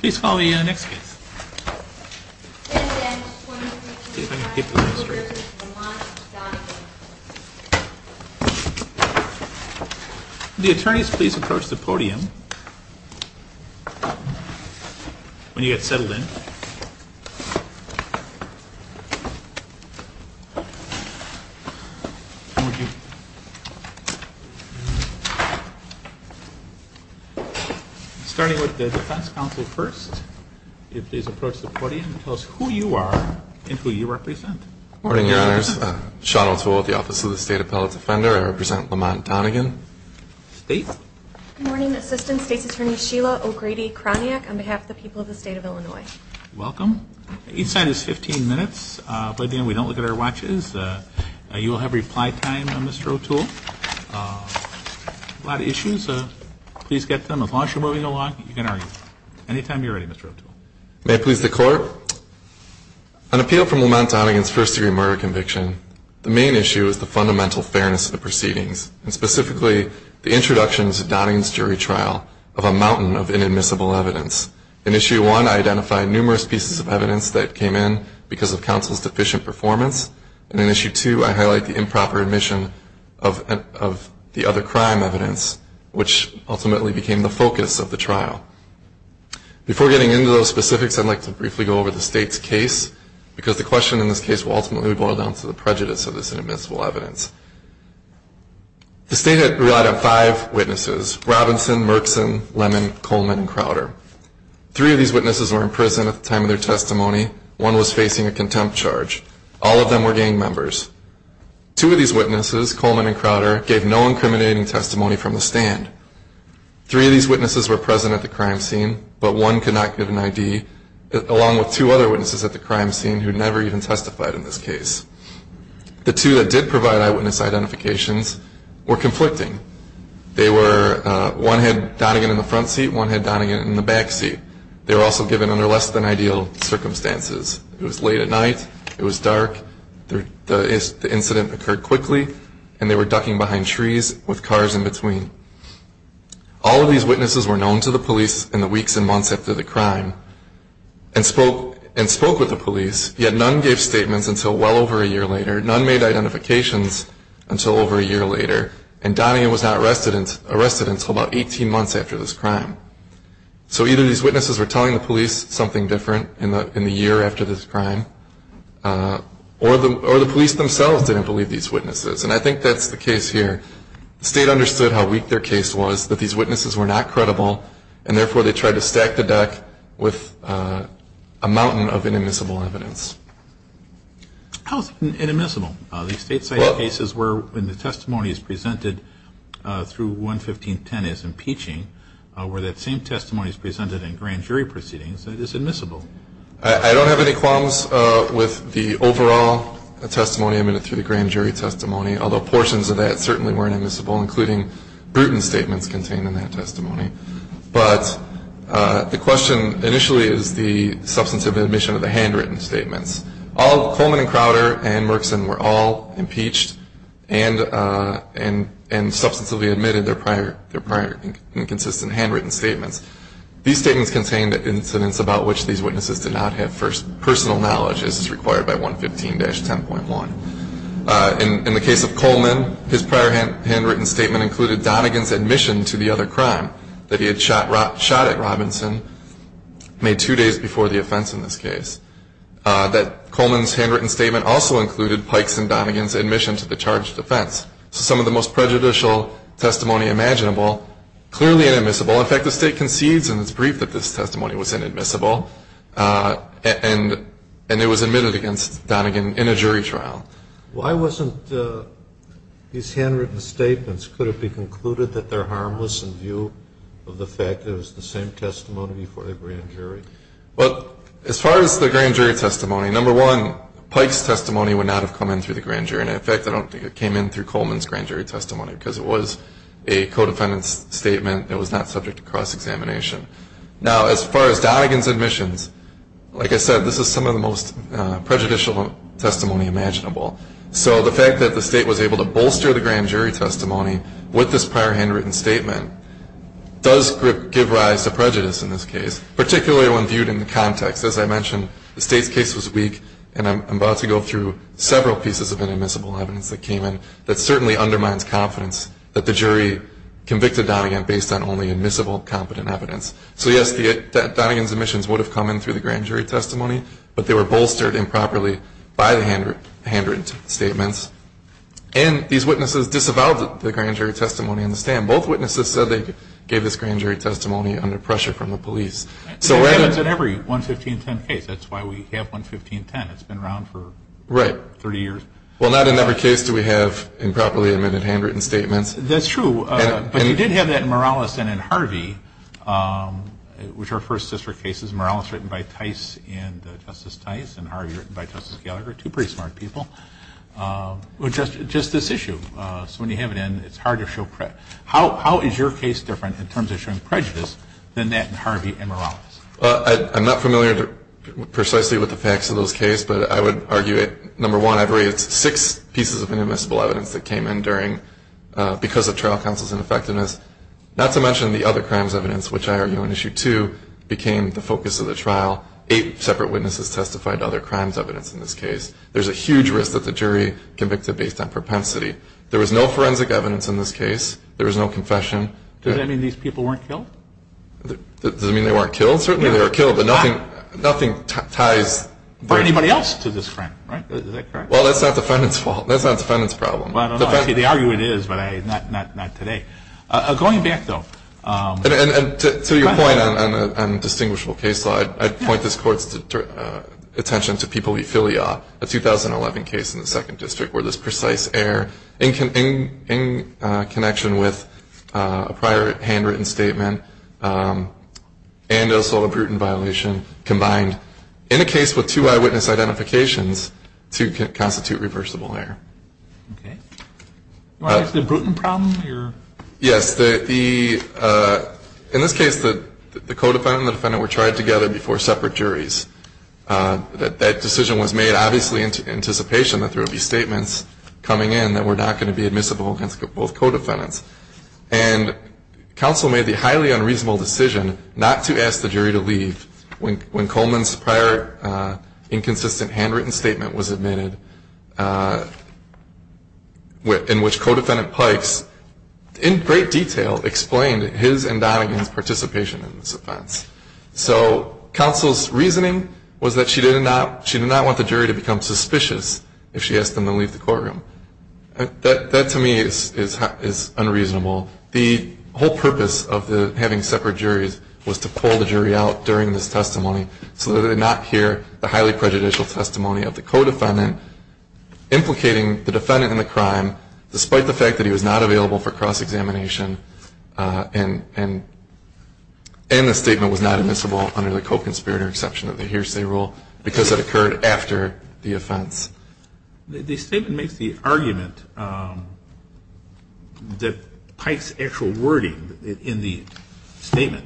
Please call the next case. Will the attorneys please approach the podium when you get settled in. Starting with the defense counsel first. Please approach the podium and tell us who you are and who you represent. Good morning, your honors. Sean O'Toole with the Office of the State Appellate Defender. I represent Lamont Donegan. State? Good morning, Assistant State's Attorney Sheila O'Grady-Kroniak on behalf of the people of the state of Illinois. Welcome. Each side is 15 minutes. By then we don't look at our watches. You will have reply time, Mr. O'Toole. A lot of issues. Please get to them. As long as you're moving along, you can argue. Anytime you're ready, Mr. O'Toole. May I please the court? On appeal from Lamont Donegan's first-degree murder conviction, the main issue is the fundamental fairness of the proceedings, and specifically the introduction to Donegan's jury trial of a mountain of inadmissible evidence. In issue one, I identified numerous pieces of evidence that came in because of counsel's deficient performance. And in issue two, I highlight the improper admission of the other crime evidence, which ultimately became the focus of the trial. Before getting into those specifics, I'd like to briefly go over the state's case, because the question in this case will ultimately boil down to the prejudice of this inadmissible evidence. The state had relied on five witnesses, Robinson, Merkson, Lemon, Coleman, and Crowder. Three of these witnesses were in prison at the time of their testimony. One was facing a contempt charge. All of them were gang members. Two of these witnesses, Coleman and Crowder, gave no incriminating testimony from the stand. Three of these witnesses were present at the crime scene, but one could not give an ID, along with two other witnesses at the crime scene who never even testified in this case. The two that did provide eyewitness identifications were conflicting. They were one had Donegan in the front seat, one had Donegan in the back seat. They were also given under less than ideal circumstances. It was late at night. It was dark. The incident occurred quickly, and they were ducking behind trees with cars in between. All of these witnesses were known to the police in the weeks and months after the crime and spoke with the police, yet none gave statements until well over a year later. None made identifications until over a year later, and Donegan was not arrested until about 18 months after this crime. So either these witnesses were telling the police something different in the year after this crime, or the police themselves didn't believe these witnesses, and I think that's the case here. The state understood how weak their case was, that these witnesses were not credible, and therefore they tried to stack the deck with a mountain of inadmissible evidence. How is it inadmissible? The state cited cases where the testimony is presented through 11510 as impeaching, where that same testimony is presented in grand jury proceedings, that is admissible. I don't have any qualms with the overall testimony admitted through the grand jury testimony, although portions of that certainly weren't admissible, including Bruton statements contained in that testimony. But the question initially is the substantive admission of the handwritten statements. Coleman and Crowder and Merkson were all impeached and substantively admitted their prior inconsistent handwritten statements. These statements contained incidents about which these witnesses did not have personal knowledge, as is required by 115-10.1. In the case of Coleman, his prior handwritten statement included Donegan's admission to the other crime, that he had shot at Robinson May 2 days before the offense in this case. That Coleman's handwritten statement also included Pikes and Donegan's admission to the charged offense. So some of the most prejudicial testimony imaginable, clearly inadmissible. In fact, the state concedes in its brief that this testimony was inadmissible, and it was admitted against Donegan in a jury trial. Why wasn't these handwritten statements, could it be concluded that they're harmless in view of the fact that it was the same testimony before the grand jury? Well, as far as the grand jury testimony, number one, Pikes' testimony would not have come in through the grand jury. And in fact, I don't think it came in through Coleman's grand jury testimony, because it was a co-defendant's statement that was not subject to cross-examination. Now, as far as Donegan's admissions, like I said, this is some of the most prejudicial testimony imaginable. So the fact that the state was able to bolster the grand jury testimony with this prior handwritten statement does give rise to prejudice in this case, particularly when viewed in the context. As I mentioned, the state's case was weak, and I'm about to go through several pieces of inadmissible evidence that came in that certainly undermines confidence that the jury convicted Donegan based on only admissible, competent evidence. So yes, Donegan's admissions would have come in through the grand jury testimony, but they were bolstered improperly by the handwritten statements. And these witnesses disavowed the grand jury testimony in the stand. Both witnesses said they gave this grand jury testimony under pressure from the police. It happens in every 11510 case. That's why we have 11510. It's been around for 30 years. Well, not in every case do we have improperly admitted handwritten statements. That's true. But you did have that in Morales and in Harvey, which are first district cases. Morales was written by Tice and Justice Tice, and Harvey was written by Justice Gallagher, two pretty smart people. Just this issue. So when you have it in, it's hard to show prejudice. How is your case different in terms of showing prejudice than that in Harvey and Morales? I'm not familiar precisely with the facts of those cases, but I would argue that, number one, I believe it's six pieces of inadmissible evidence that came in because of trial counsel's ineffectiveness, not to mention the other crimes evidence, which I argue in issue two became the focus of the trial. Eight separate witnesses testified to other crimes evidence in this case. There's a huge risk that the jury convicted based on propensity. There was no forensic evidence in this case. There was no confession. Does that mean these people weren't killed? Does it mean they weren't killed? Certainly they were killed, but nothing ties. For anybody else to this crime, right? Is that correct? Well, that's not the defendant's fault. That's not the defendant's problem. Well, I don't know. I see the argument is, but not today. Going back, though. To your point on distinguishable case law, I'd point this Court's attention to People v. Filia, a 2011 case in the Second District where this precise error in connection with a prior handwritten statement and an assault and brutal violation combined in a case with two eyewitness identifications to constitute reversible error. Okay. The Bruton problem? Yes. In this case, the co-defendant and the defendant were tried together before separate juries. That decision was made obviously in anticipation that there would be statements coming in that were not going to be admissible against both co-defendants. And counsel made the highly unreasonable decision not to ask the jury to leave when Coleman's prior inconsistent handwritten statement was admitted in which co-defendant Pikes, in great detail, explained his and Donegan's participation in this offense. So counsel's reasoning was that she did not want the jury to become suspicious if she asked them to leave the courtroom. That to me is unreasonable. The whole purpose of having separate juries was to pull the jury out during this testimony so that they did not hear the highly prejudicial testimony of the co-defendant, implicating the defendant in the crime despite the fact that he was not available for cross-examination and the statement was not admissible under the co-conspirator exception of the hearsay rule because it occurred after the offense. The statement makes the argument that Pikes' actual wording in the statement,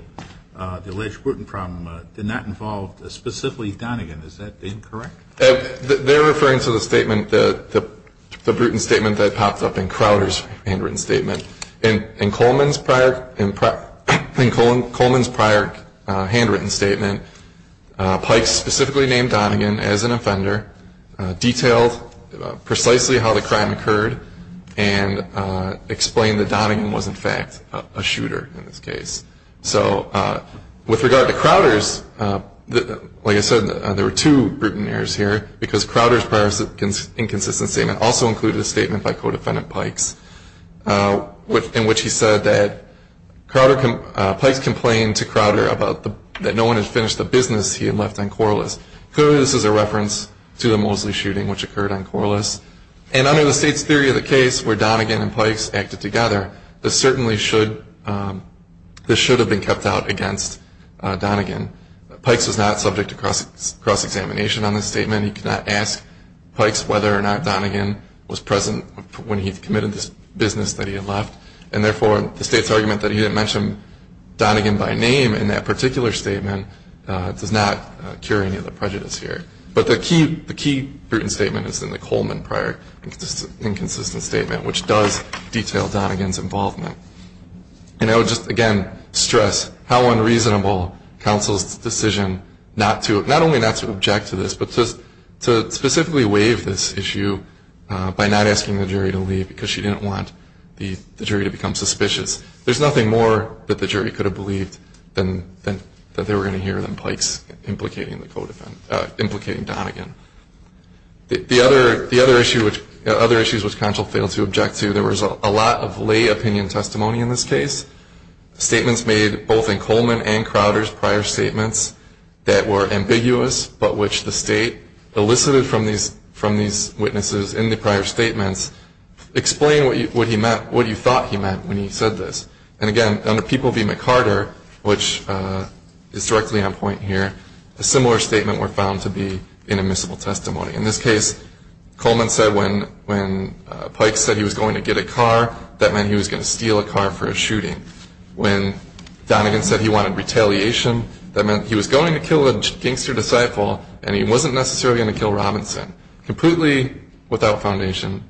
the alleged Bruton problem, did not involve specifically Donegan. Is that incorrect? They're referring to the statement, the Bruton statement that popped up in Crowder's handwritten statement. In Coleman's prior handwritten statement, Pikes specifically named Donegan as an offender, detailed precisely how the crime occurred, and explained that Donegan was, in fact, a shooter in this case. So with regard to Crowder's, like I said, there were two Bruton errors here because Crowder's prior inconsistent statement also included a statement by co-defendant Pikes in which he said that Pikes complained to Crowder that no one had finished the business he had left on Corliss. Clearly this is a reference to the Mosley shooting which occurred on Corliss. And under the State's theory of the case where Donegan and Pikes acted together, this certainly should have been kept out against Donegan. Pikes was not subject to cross-examination on this statement. He could not ask Pikes whether or not Donegan was present when he committed this business that he had left, and therefore the State's argument that he didn't mention Donegan by name in that particular statement does not cure any of the prejudice here. But the key Bruton statement is in the Coleman prior inconsistent statement, which does detail Donegan's involvement. And I would just, again, stress how unreasonable counsel's decision not only not to object to this, but to specifically waive this issue by not asking the jury to leave because she didn't want the jury to become suspicious. There's nothing more that the jury could have believed that they were going to hear than Pikes implicating Donegan. The other issues which counsel failed to object to, there was a lot of lay opinion testimony in this case. Statements made both in Coleman and Crowder's prior statements that were ambiguous, but which the State elicited from these witnesses in the prior statements explain what you thought he meant when he said this. And, again, under People v. McCarter, which is directly on point here, a similar statement were found to be inadmissible testimony. In this case, Coleman said when Pikes said he was going to get a car, that meant he was going to steal a car for a shooting. When Donegan said he wanted retaliation, that meant he was going to kill a gangster disciple and he wasn't necessarily going to kill Robinson, completely without foundation.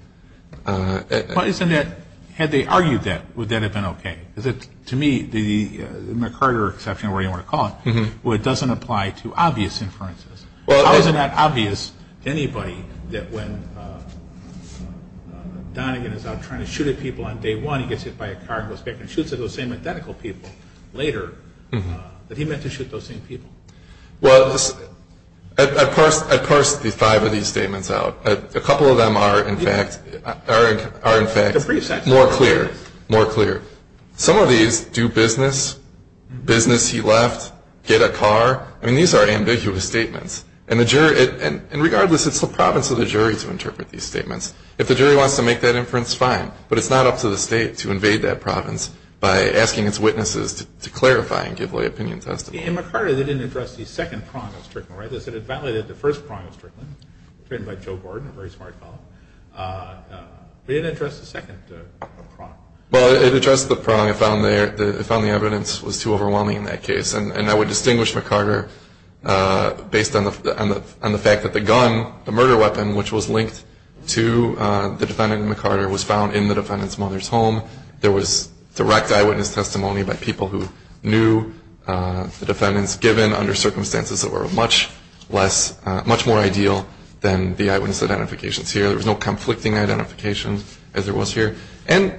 Why isn't it, had they argued that, would that have been okay? To me, the McCarter exception, whatever you want to call it, doesn't apply to obvious inferences. How is it not obvious to anybody that when Donegan is out trying to shoot at people on day one, he gets hit by a car and goes back and shoots at those same identical people later, that he meant to shoot those same people? Well, I parsed the five of these statements out. A couple of them are, in fact, more clear. Some of these, do business, business he left, get a car, I mean, these are ambiguous statements. And, regardless, it's the province of the jury to interpret these statements. If the jury wants to make that inference, fine, but it's not up to the state to invade that province by asking its witnesses to clarify and give lay opinion testimony. In McCarter, they didn't address the second prong of Strickland, right? They said it validated the first prong of Strickland, written by Joe Gordon, a very smart fellow. They didn't address the second prong. Well, it addressed the prong. It found the evidence was too overwhelming in that case. And I would distinguish McCarter based on the fact that the gun, the murder weapon, which was linked to the defendant, McCarter, was found in the defendant's mother's home. There was direct eyewitness testimony by people who knew the defendants, given under circumstances that were much more ideal than the eyewitness identifications here. There was no conflicting identification, as there was here. And,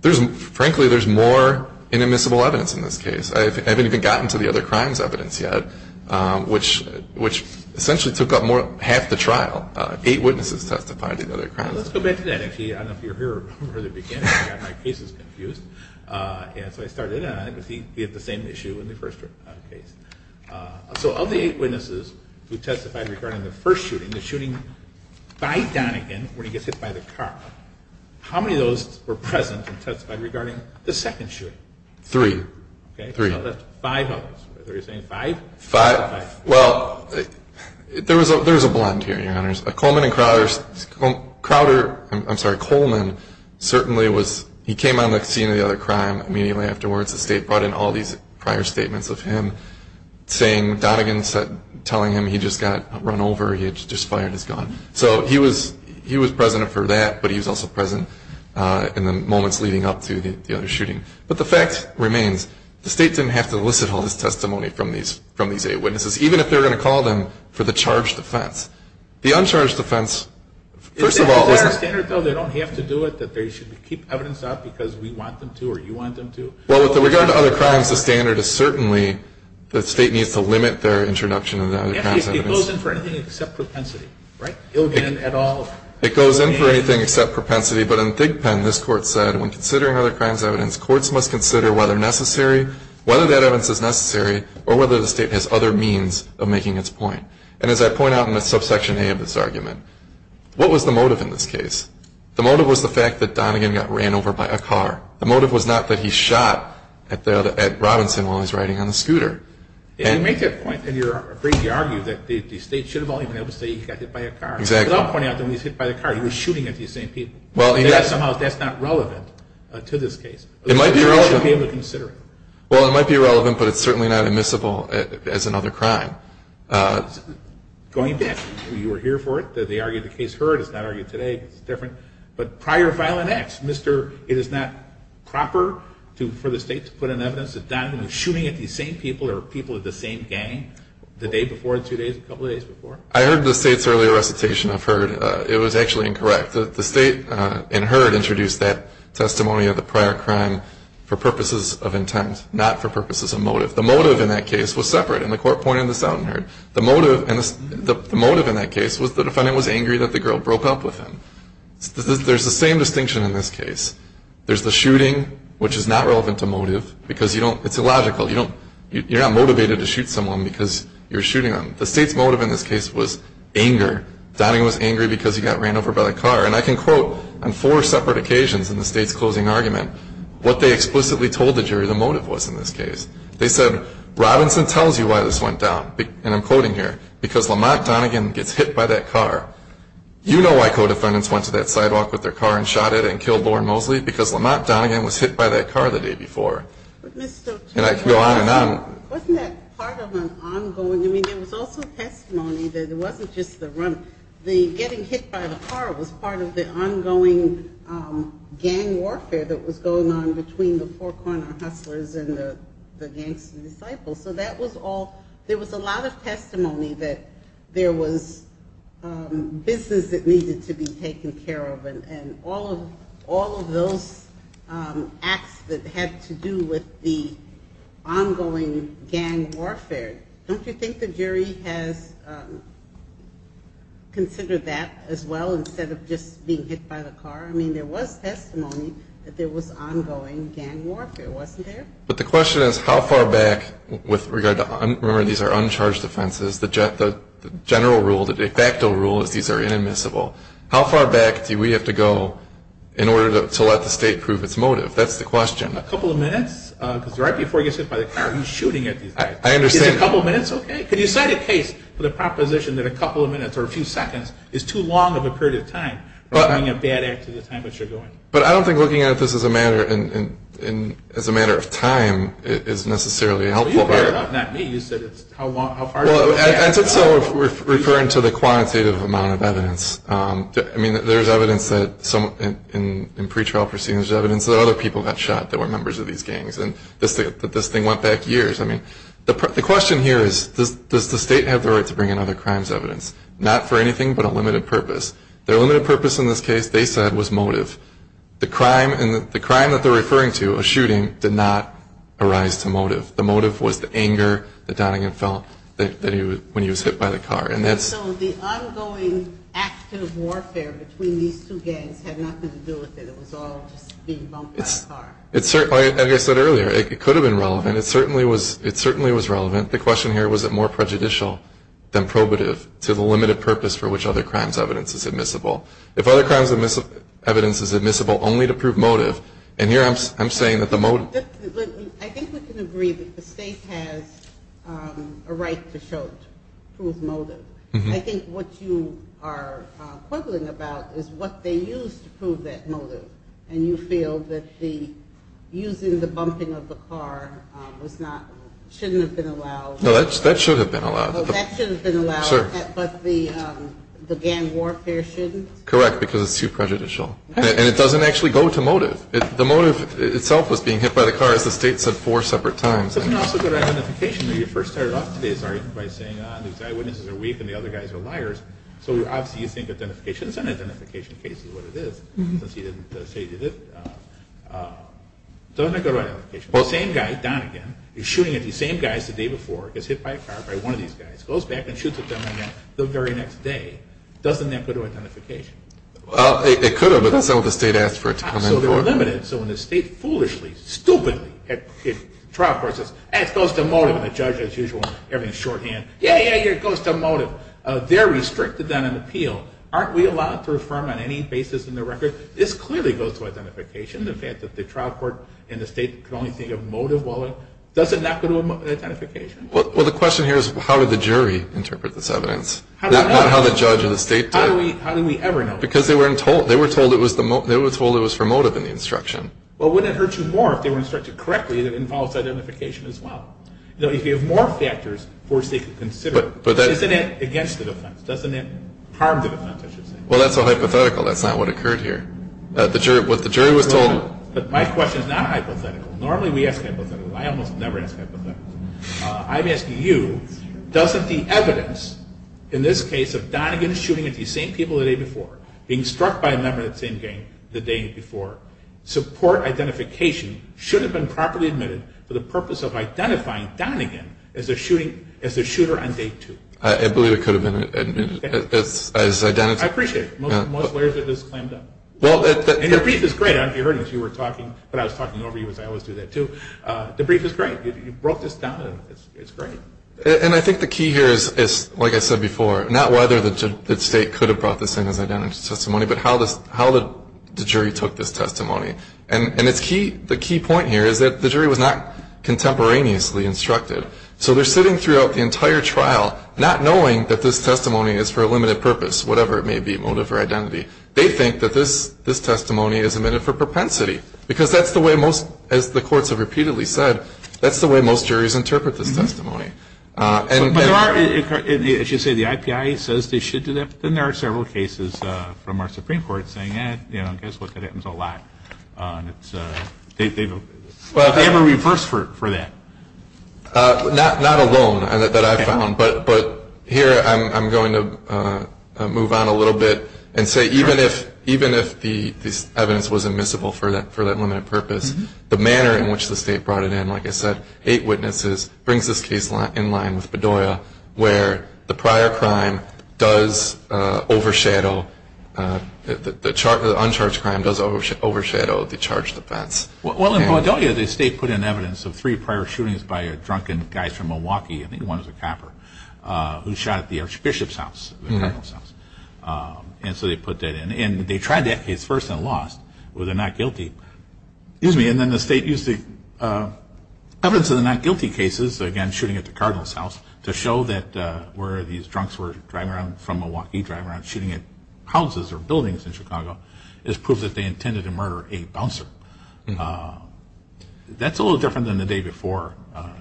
frankly, there's more in admissible evidence in this case. I haven't even gotten to the other crimes evidence yet, which essentially took up half the trial. Eight witnesses testified in the other crimes. Well, let's go back to that, actually. I don't know if you were here from the beginning. I got my cases confused. And so I started on it, but he had the same issue in the first case. So of the eight witnesses who testified regarding the first shooting, the shooting by Donegan, where he gets hit by the car, how many of those were present and testified regarding the second shooting? Three. Okay, so that's five of them. Are you saying five? Five. Well, there was a blend here, Your Honors. Coleman and Crowder, I'm sorry, Coleman certainly was, he came on the scene of the other crime immediately afterwards. The State brought in all these prior statements of him saying, Donegan telling him he just got run over, he had just fired his gun. So he was present for that, but he was also present in the moments leading up to the other shooting. But the fact remains, the State didn't have to elicit all this testimony from these eight witnesses, even if they were going to call them for the charge defense. The uncharged defense, first of all, was not. Is there a standard, though, they don't have to do it, that they should keep evidence out because we want them to or you want them to? Well, with regard to other crimes, the standard is certainly the State needs to limit their introduction of the other crimes evidence. It goes in for anything except propensity, right? Illegally at all. It goes in for anything except propensity. But in Thigpen, this Court said, when considering other crimes evidence, courts must consider whether necessary, whether that evidence is necessary, or whether the State has other means of making its point. And as I point out in the subsection A of this argument, what was the motive in this case? The motive was the fact that Donegan got ran over by a car. The motive was not that he shot at Robinson while he was riding on a scooter. You make that point, and you're afraid to argue that the State should have all been able to say he got hit by a car. Exactly. Because I'm pointing out that when he was hit by a car, he was shooting at these same people. That's not relevant to this case. It might be relevant. But the State should be able to consider it. Well, it might be relevant, but it's certainly not admissible as another crime. Going back, you were here for it. They argued the case heard. It's not argued today. It's different. But prior violent acts, it is not proper for the State to put in evidence that Donegan was shooting at these same people or people of the same gang the day before, two days, a couple of days before? I heard the State's earlier recitation of heard. It was actually incorrect. The State in heard introduced that testimony of the prior crime for purposes of intent, not for purposes of motive. The motive in that case was separate, and the Court pointed this out in heard. The motive in that case was the defendant was angry that the girl broke up with him. There's the same distinction in this case. There's the shooting, which is not relevant to motive because it's illogical. You're not motivated to shoot someone because you're shooting them. The State's motive in this case was anger. Donegan was angry because he got ran over by the car. And I can quote on four separate occasions in the State's closing argument what they explicitly told the jury the motive was in this case. They said, Robinson tells you why this went down, and I'm quoting here, because Lamont Donegan gets hit by that car. You know why co-defendants went to that sidewalk with their car and shot it and killed Loren Mosley? Because Lamont Donegan was hit by that car the day before. And I could go on and on. Wasn't that part of an ongoing? I mean, there was also testimony that it wasn't just the run. The getting hit by the car was part of the ongoing gang warfare that was going on between the Four Corner Hustlers and the Gangster Disciples. So there was a lot of testimony that there was business that needed to be taken care of, and all of those acts that had to do with the ongoing gang warfare. Don't you think the jury has considered that as well instead of just being hit by the car? I mean, there was testimony that there was ongoing gang warfare, wasn't there? But the question is, how far back with regard to – remember, these are uncharged offenses. The general rule, the de facto rule is these are inadmissible. How far back do we have to go in order to let the state prove its motive? That's the question. A couple of minutes? Because right before you get hit by the car, he's shooting at you. I understand. Is a couple of minutes okay? Could you cite a case with a proposition that a couple of minutes or a few seconds is too long of a period of time for being a bad act at the time that you're going? But I don't think looking at this as a matter of time is necessarily helpful here. Not me. Well, I took some of referring to the quantitative amount of evidence. I mean, there's evidence that in pretrial proceedings, there's evidence that other people got shot that were members of these gangs, and that this thing went back years. I mean, the question here is, does the state have the right to bring in other crimes evidence, not for anything but a limited purpose? Their limited purpose in this case, they said, was motive. The crime that they're referring to, a shooting, did not arise to motive. The motive was the anger that Donagan felt when he was hit by the car. And so the ongoing act of warfare between these two gangs had nothing to do with it. It was all just being bumped by a car. Like I said earlier, it could have been relevant. It certainly was relevant. The question here, was it more prejudicial than probative to the limited purpose for which other crimes evidence is admissible? If other crimes evidence is admissible only to prove motive, and here I'm saying that the motive. I think we can agree that the state has a right to prove motive. I think what you are quibbling about is what they used to prove that motive. And you feel that the using the bumping of the car was not, shouldn't have been allowed. No, that should have been allowed. That should have been allowed. Sure. But the gang warfare shouldn't? Correct, because it's too prejudicial. And it doesn't actually go to motive. The motive itself was being hit by the car, as the state said four separate times. It doesn't also go to identification. When you first started off today's argument by saying these eyewitnesses are weak and the other guys are liars. So obviously you think identification is an identification case is what it is. Since you didn't say you did it. It doesn't go to identification. The same guy, Don again, is shooting at these same guys the day before, gets hit by a car by one of these guys, goes back and shoots at them again the very next day. Doesn't that go to identification? It could have, but that's not what the state asked for it to come in for. So they're limited. So when the state foolishly, stupidly, the trial court says, it goes to motive, and the judge, as usual, everything shorthand, yeah, yeah, yeah, it goes to motive. They're restricted on an appeal. Aren't we allowed to affirm on any basis in the record? This clearly goes to identification, the fact that the trial court and the state can only think of motive. Does it not go to identification? Well, the question here is how did the jury interpret this evidence? Not how the judge or the state did. How do we ever know? Because they were told it was for motive in the instruction. Well, wouldn't it hurt you more if they were instructed correctly that it involves identification as well? You know, if you have more factors, of course they could consider it. But isn't it against the defense? Doesn't it harm the defense, I should say? Well, that's a hypothetical. That's not what occurred here. What the jury was told. But my question is not hypothetical. Normally we ask hypotheticals. I almost never ask hypotheticals. I'm asking you, doesn't the evidence in this case of Donegan shooting at these same people the day before, being struck by a member of that same gang the day before, support identification should have been properly admitted for the purpose of identifying Donegan as the shooter on day two? I believe it could have been admitted as identified. I appreciate it. Most lawyers are just clammed up. And your brief is great. You heard it as you were talking, but I was talking over you as I always do that too. The brief is great. You brought this down, and it's great. And I think the key here is, like I said before, not whether the state could have brought this in as identity testimony, but how the jury took this testimony. And the key point here is that the jury was not contemporaneously instructed. So they're sitting throughout the entire trial not knowing that this testimony is for a limited purpose, whatever it may be, motive or identity. They think that this testimony is admitted for propensity, because that's the way most, as the courts have repeatedly said, that's the way most juries interpret this testimony. But there are, as you say, the IPIA says they should do that, but then there are several cases from our Supreme Court saying, you know, guess what, that happens a lot. They have a reverse for that. Not alone that I've found, but here I'm going to move on a little bit and say even if this evidence was admissible for that limited purpose, the manner in which the state brought it in, like I said, eight witnesses brings this case in line with Bedoya, where the prior crime does overshadow, the uncharged crime does overshadow the charged offense. Well, in Bedoya the state put in evidence of three prior shootings by a drunken guy from Milwaukee, I think one was a copper, who shot at the Archbishop's house, the Cardinal's house. And so they put that in, and they tried that case first and lost, but they're not guilty. And then the state used the evidence of the not guilty cases, again shooting at the Cardinal's house, to show that where these drunks were driving around from Milwaukee, driving around shooting at houses or buildings in Chicago, as proof that they intended to murder a bouncer. That's a little different than the day before,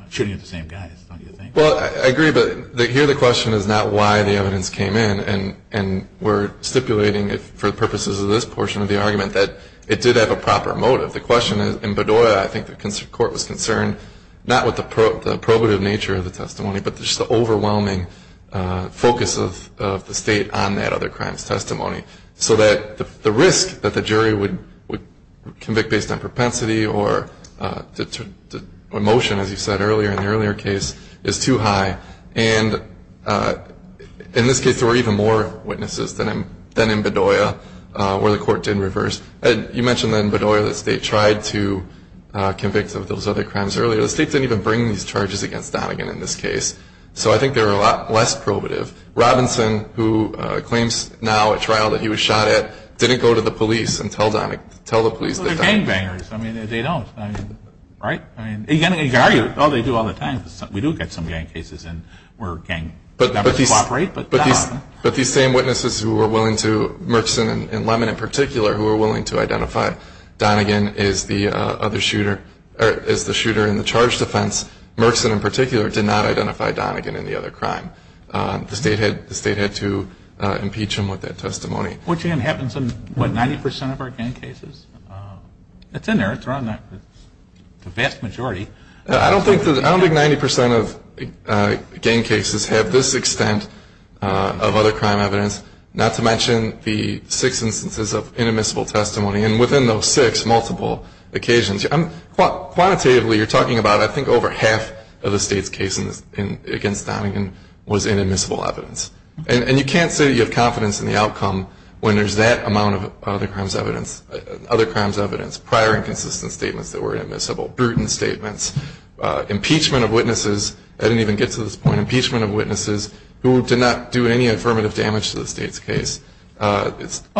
shooting at the same guys, don't you think? Well, I agree, but here the question is not why the evidence came in, and we're stipulating, for the purposes of this portion of the argument, that it did have a proper motive. The question is, in Bedoya, I think the court was concerned, not with the probative nature of the testimony, so that the risk that the jury would convict based on propensity or emotion, as you said earlier in the earlier case, is too high. And in this case there were even more witnesses than in Bedoya, where the court did reverse. You mentioned that in Bedoya the state tried to convict of those other crimes earlier. The state didn't even bring these charges against Donegan in this case, so I think they were a lot less probative. Robinson, who claims now at trial that he was shot at, didn't go to the police and tell the police that Donegan was shot at. Well, they're gangbangers. I mean, they don't, right? You can argue, oh, they do all the time. We do get some gang cases where gang members cooperate, but not often. But these same witnesses who were willing to, Merkson and Lemon in particular, who were willing to identify Donegan as the shooter in the charged offense, Merkson in particular did not identify Donegan in the other crime. The state had to impeach him with that testimony. Which, again, happens in, what, 90% of our gang cases? It's in there. It's around the vast majority. I don't think 90% of gang cases have this extent of other crime evidence, not to mention the six instances of inadmissible testimony. And within those six, multiple occasions. Quantitatively, you're talking about, I think, over half of the state's cases against Donegan was inadmissible evidence. And you can't say you have confidence in the outcome when there's that amount of other crimes evidence, prior inconsistent statements that were inadmissible, brutal statements, impeachment of witnesses. I didn't even get to this point. Impeachment of witnesses who did not do any affirmative damage to the state's case. Well,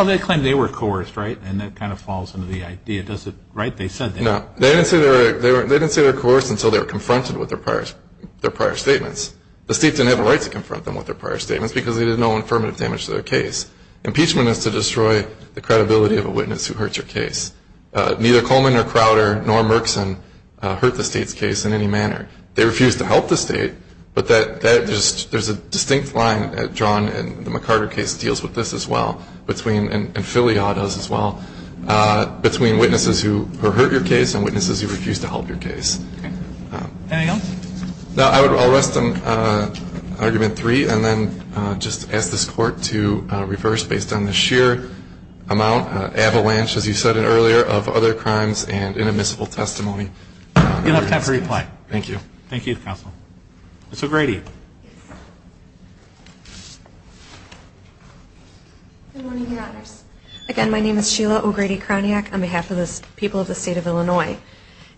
they claim they were coerced, right? And that kind of falls under the idea. Right, they said that. No, they didn't say they were coerced until they were confronted with their prior statements. The state didn't have a right to confront them with their prior statements because they did no affirmative damage to their case. Impeachment is to destroy the credibility of a witness who hurts your case. Neither Coleman nor Crowder nor Merkson hurt the state's case in any manner. They refused to help the state, but there's a distinct line drawn in the McCarter case that deals with this as well, and Filia does as well, between witnesses who hurt your case and witnesses who refuse to help your case. Anything else? No, I'll rest on argument three and then just ask this Court to reverse based on the sheer amount, avalanche, as you said earlier, of other crimes and inadmissible testimony. You'll have to have a reply. Thank you. Thank you, Counsel. Mr. Grady. Good morning, Your Honors. Again, my name is Sheila O'Grady-Kroniak on behalf of the people of the state of Illinois.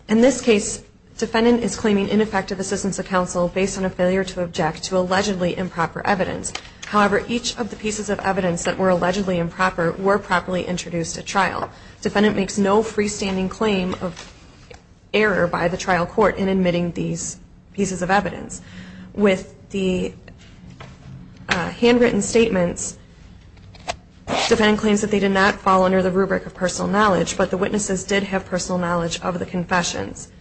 In this case, defendant is claiming ineffective assistance of counsel based on a failure to object to allegedly improper evidence. However, each of the pieces of evidence that were allegedly improper were properly introduced at trial. Defendant makes no freestanding claim of error by the trial court in admitting these pieces of evidence. With the handwritten statements, defendant claims that they did not fall under the rubric of personal knowledge, but the witnesses did have personal knowledge of the confessions.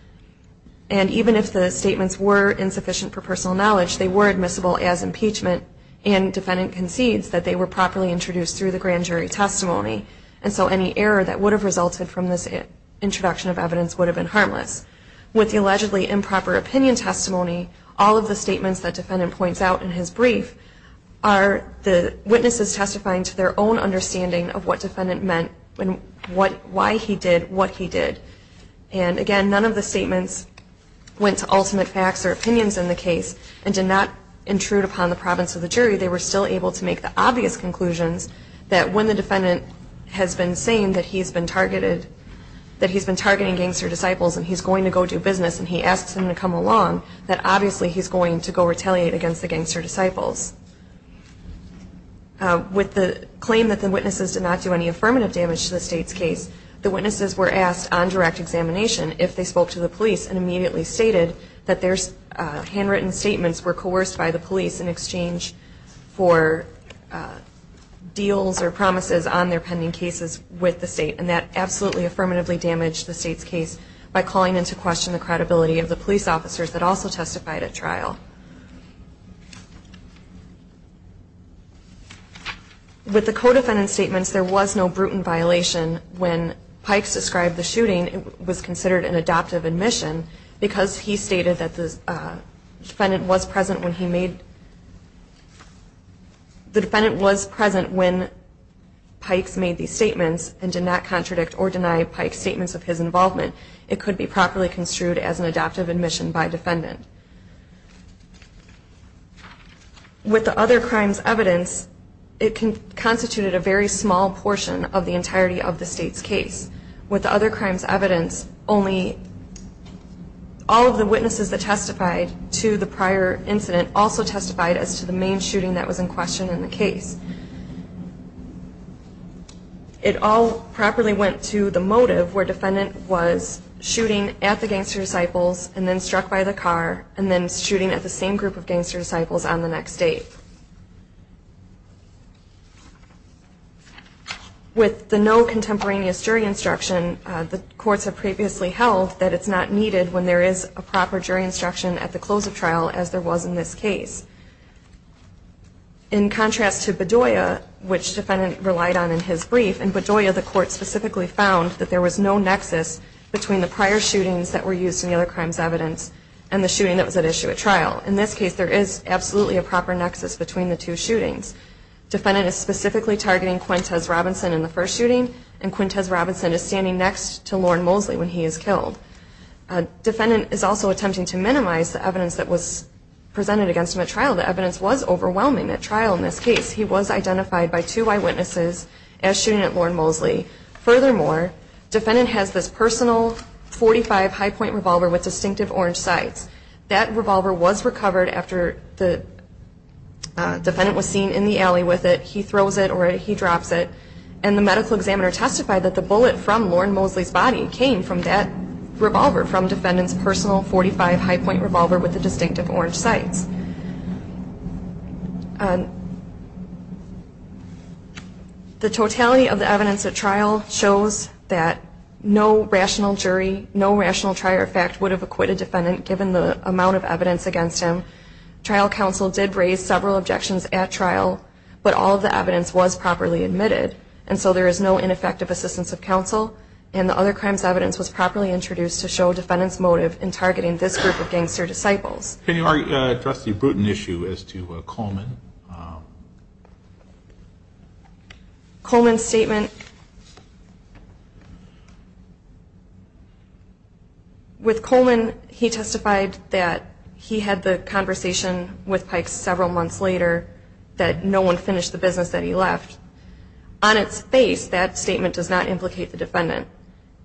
And even if the statements were insufficient for personal knowledge, they were admissible as impeachment, and defendant concedes that they were properly introduced through the grand jury testimony, and so any error that would have resulted from this introduction of evidence would have been harmless. With the allegedly improper opinion testimony, all of the statements that defendant points out in his brief are the witnesses testifying to their own understanding of what defendant meant and why he did what he did. And again, none of the statements went to ultimate facts or opinions in the case and did not intrude upon the province of the jury. They were still able to make the obvious conclusions that when the defendant has been saying that he's been targeting gangster disciples and he's going to go do business and he asks them to come along, that obviously he's going to go retaliate against the gangster disciples. With the claim that the witnesses did not do any affirmative damage to the state's case, the witnesses were asked on direct examination if they spoke to the police and immediately stated that their handwritten statements were coerced by the police in exchange for deals or promises on their pending cases with the state, and that absolutely affirmatively damaged the state's case by calling into question the credibility of the police officers that also testified at trial. With the co-defendant statements, there was no brutal violation. When Pikes described the shooting, it was considered an adoptive admission because he stated that the defendant was present when Pikes made these statements and did not contradict or deny Pikes' statements of his involvement. It could be properly construed as an adoptive admission by defendant. With the other crimes evidence, it constituted a very small portion of the entirety of the state's case. With the other crimes evidence, all of the witnesses that testified to the prior incident also testified as to the main shooting that was in question in the case. It all properly went to the motive where defendant was shooting at the gangster disciples and then struck by the car and then shooting at the same group of gangster disciples on the next date. With the no contemporaneous jury instruction, the courts have previously held that it's not needed when there is a proper jury instruction at the close of trial as there was in this case. In contrast to Bedoya, which defendant relied on in his brief, in Bedoya the court specifically found that there was no nexus between the prior shootings that were used in the other crimes evidence and the shooting that was at issue at trial. In this case, there is absolutely a proper nexus between the two shootings. Defendant is specifically targeting Quintez Robinson in the first shooting and Quintez Robinson is standing next to Lorne Mosley when he is killed. Defendant is also attempting to minimize the evidence that was presented against him at trial. The evidence was overwhelming at trial in this case. He was identified by two eyewitnesses as shooting at Lorne Mosley. Furthermore, defendant has this personal .45 high point revolver with distinctive orange sights. That revolver was recovered after the defendant was seen in the alley with it. He throws it or he drops it. And the medical examiner testified that the bullet from Lorne Mosley's body came from that revolver, from defendant's personal .45 high point revolver with the distinctive orange sights. The totality of the evidence at trial shows that no rational jury, no rational trier of fact would have acquitted defendant given the amount of evidence against him. Trial counsel did raise several objections at trial, but all of the evidence was properly admitted. And so there is no ineffective assistance of counsel, and the other crimes evidence was properly introduced to show defendant's motive in targeting this group of gangster disciples. Can you address the Bruton issue as to Coleman? Coleman's statement, with Coleman he testified that he had the conversation with Pikes several months later that no one finished the business that he left. On its face, that statement does not implicate the defendant.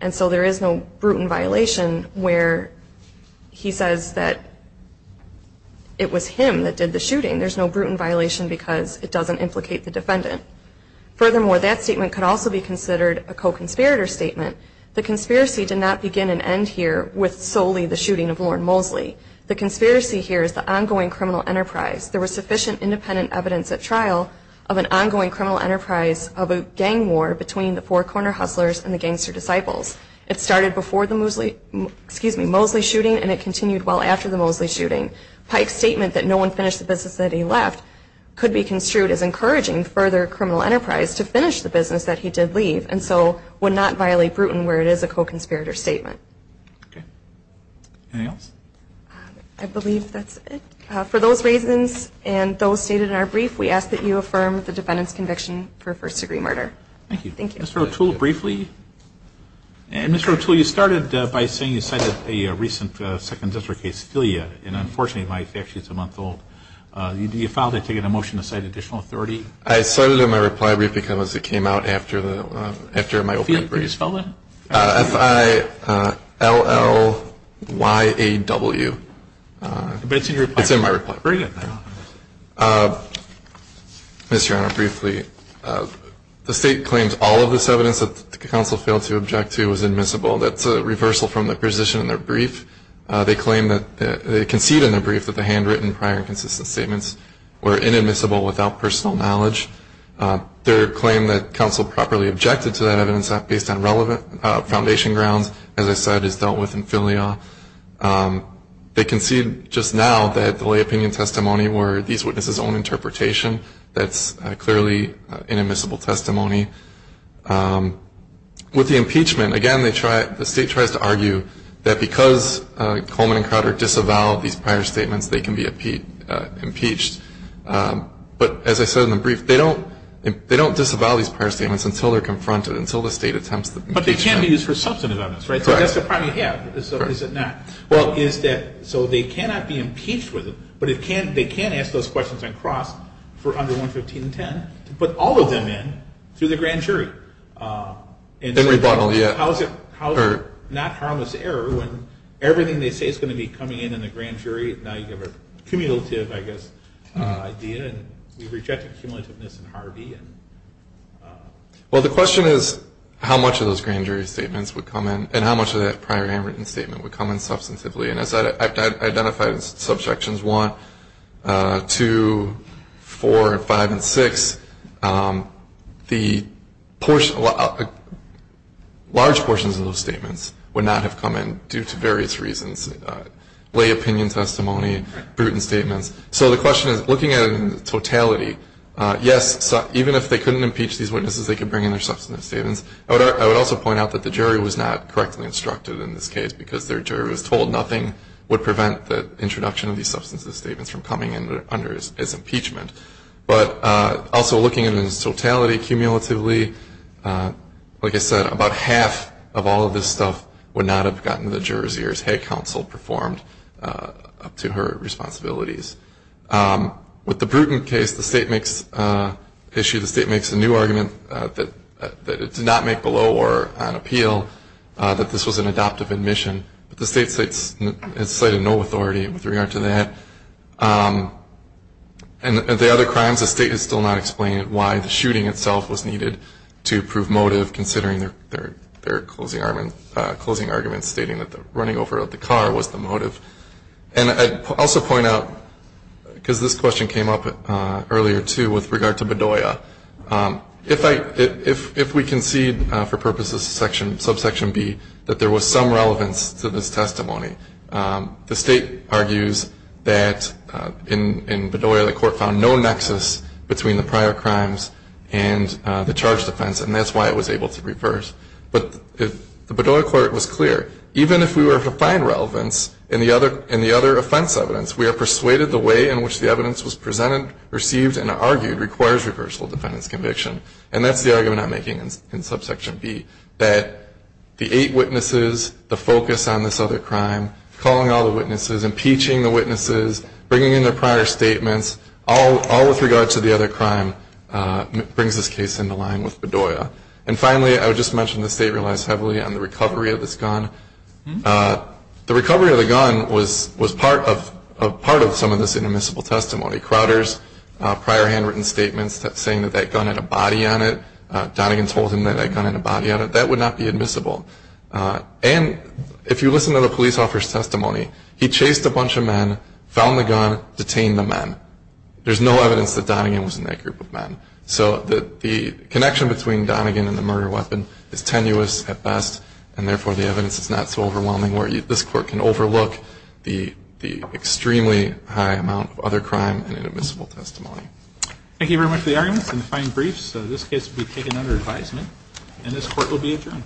And so there is no Bruton violation where he says that it was him that did the shooting. There's no Bruton violation. There's no Bruton violation because it doesn't implicate the defendant. Furthermore, that statement could also be considered a co-conspirator statement. The conspiracy did not begin and end here with solely the shooting of Lorne Mosley. The conspiracy here is the ongoing criminal enterprise. There was sufficient independent evidence at trial of an ongoing criminal enterprise of a gang war between the Four Corner Hustlers and the gangster disciples. It started before the Mosley shooting, and it continued well after the Mosley shooting. Pike's statement that no one finished the business that he left could be construed as encouraging further criminal enterprise to finish the business that he did leave and so would not violate Bruton where it is a co-conspirator statement. Anything else? I believe that's it. For those reasons and those stated in our brief, we ask that you affirm the defendant's conviction for first-degree murder. Thank you. Mr. O'Toole, briefly. Mr. O'Toole, you started by saying you cited a recent second district case, Philia, and unfortunately my fact sheet is a month old. Do you file that ticket and motion to cite additional authority? I cited it in my reply brief because it came out after my opening brief. Can you spell that? F-I-L-L-Y-A-W. But it's in your reply brief. It's in my reply brief. Very good. Mr. O'Toole. Mr. Honor, briefly. The state claims all of this evidence that the counsel failed to object to was admissible. That's a reversal from the position in their brief. They claim that they concede in their brief that the handwritten prior and consistent statements were inadmissible without personal knowledge. Their claim that counsel properly objected to that evidence based on relevant foundation grounds, as I said, is dealt with in Philia. They concede just now that the lay opinion testimony were these witnesses' own interpretation. That's clearly inadmissible testimony. With the impeachment, again, the state tries to argue that because Coleman and Crowder disavowed these prior statements, they can be impeached. But as I said in the brief, they don't disavow these prior statements until they're confronted, until the state attempts the impeachment. But they can be used for substantive evidence, right? Correct. That's the problem you have, is it not? Well, is that so they cannot be impeached with them, but they can ask those questions on cross for under 11510 to put all of them in through the grand jury. And rebuttal, yeah. How is it not harmless error when everything they say is going to be coming in in the grand jury, and now you have a cumulative, I guess, idea, and you've rejected cumulativeness in Harvey. Well, the question is how much of those grand jury statements would come in and how much of that prior handwritten statement would come in substantively. And as I've identified in subsections 1, 2, 4, 5, and 6, the large portions of those statements would not have come in due to various reasons, lay opinion testimony, brutal statements. So the question is, looking at it in totality, yes, even if they couldn't impeach these witnesses, they could bring in their substantive statements. I would also point out that the jury was not correctly instructed in this case because their jury was told nothing would prevent the introduction of these substantive statements from coming under as impeachment. But also looking at it in totality, cumulatively, like I said, about half of all of this stuff would not have gotten the jurors' ears. And that's something that the head counsel performed up to her responsibilities. With the Bruton case, the state makes a new argument that it did not make below or on appeal that this was an adoptive admission. But the state has cited no authority with regard to that. And the other crimes, the state has still not explained why the shooting itself was needed to prove motive, considering their closing argument stating that the running over of the car was the motive. And I'd also point out, because this question came up earlier, too, with regard to Bedoya, if we concede for purposes of Subsection B that there was some relevance to this testimony, the state argues that in Bedoya the court found no nexus between the prior crimes and the charge defense. And that's why it was able to reverse. But the Bedoya court was clear. Even if we were to find relevance in the other offense evidence, we are persuaded the way in which the evidence was presented, received, and argued requires reversal of defendant's conviction. And that's the argument I'm making in Subsection B, that the eight witnesses, the focus on this other crime, calling all the witnesses, impeaching the witnesses, bringing in their prior statements, all with regard to the other crime, brings this case into line with Bedoya. And finally, I would just mention the state relies heavily on the recovery of this gun. The recovery of the gun was part of some of this inadmissible testimony. Crowder's prior handwritten statements saying that that gun had a body on it, Donegan told him that that gun had a body on it, that would not be admissible. And if you listen to the police officer's testimony, he chased a bunch of men, found the gun, detained the men. There's no evidence that Donegan was in that group of men. So the connection between Donegan and the murder weapon is tenuous at best, and therefore the evidence is not so overwhelming where this court can overlook the extremely high amount of other crime and inadmissible testimony. Thank you very much for the arguments and the fine briefs. This case will be taken under advisement, and this court will be adjourned.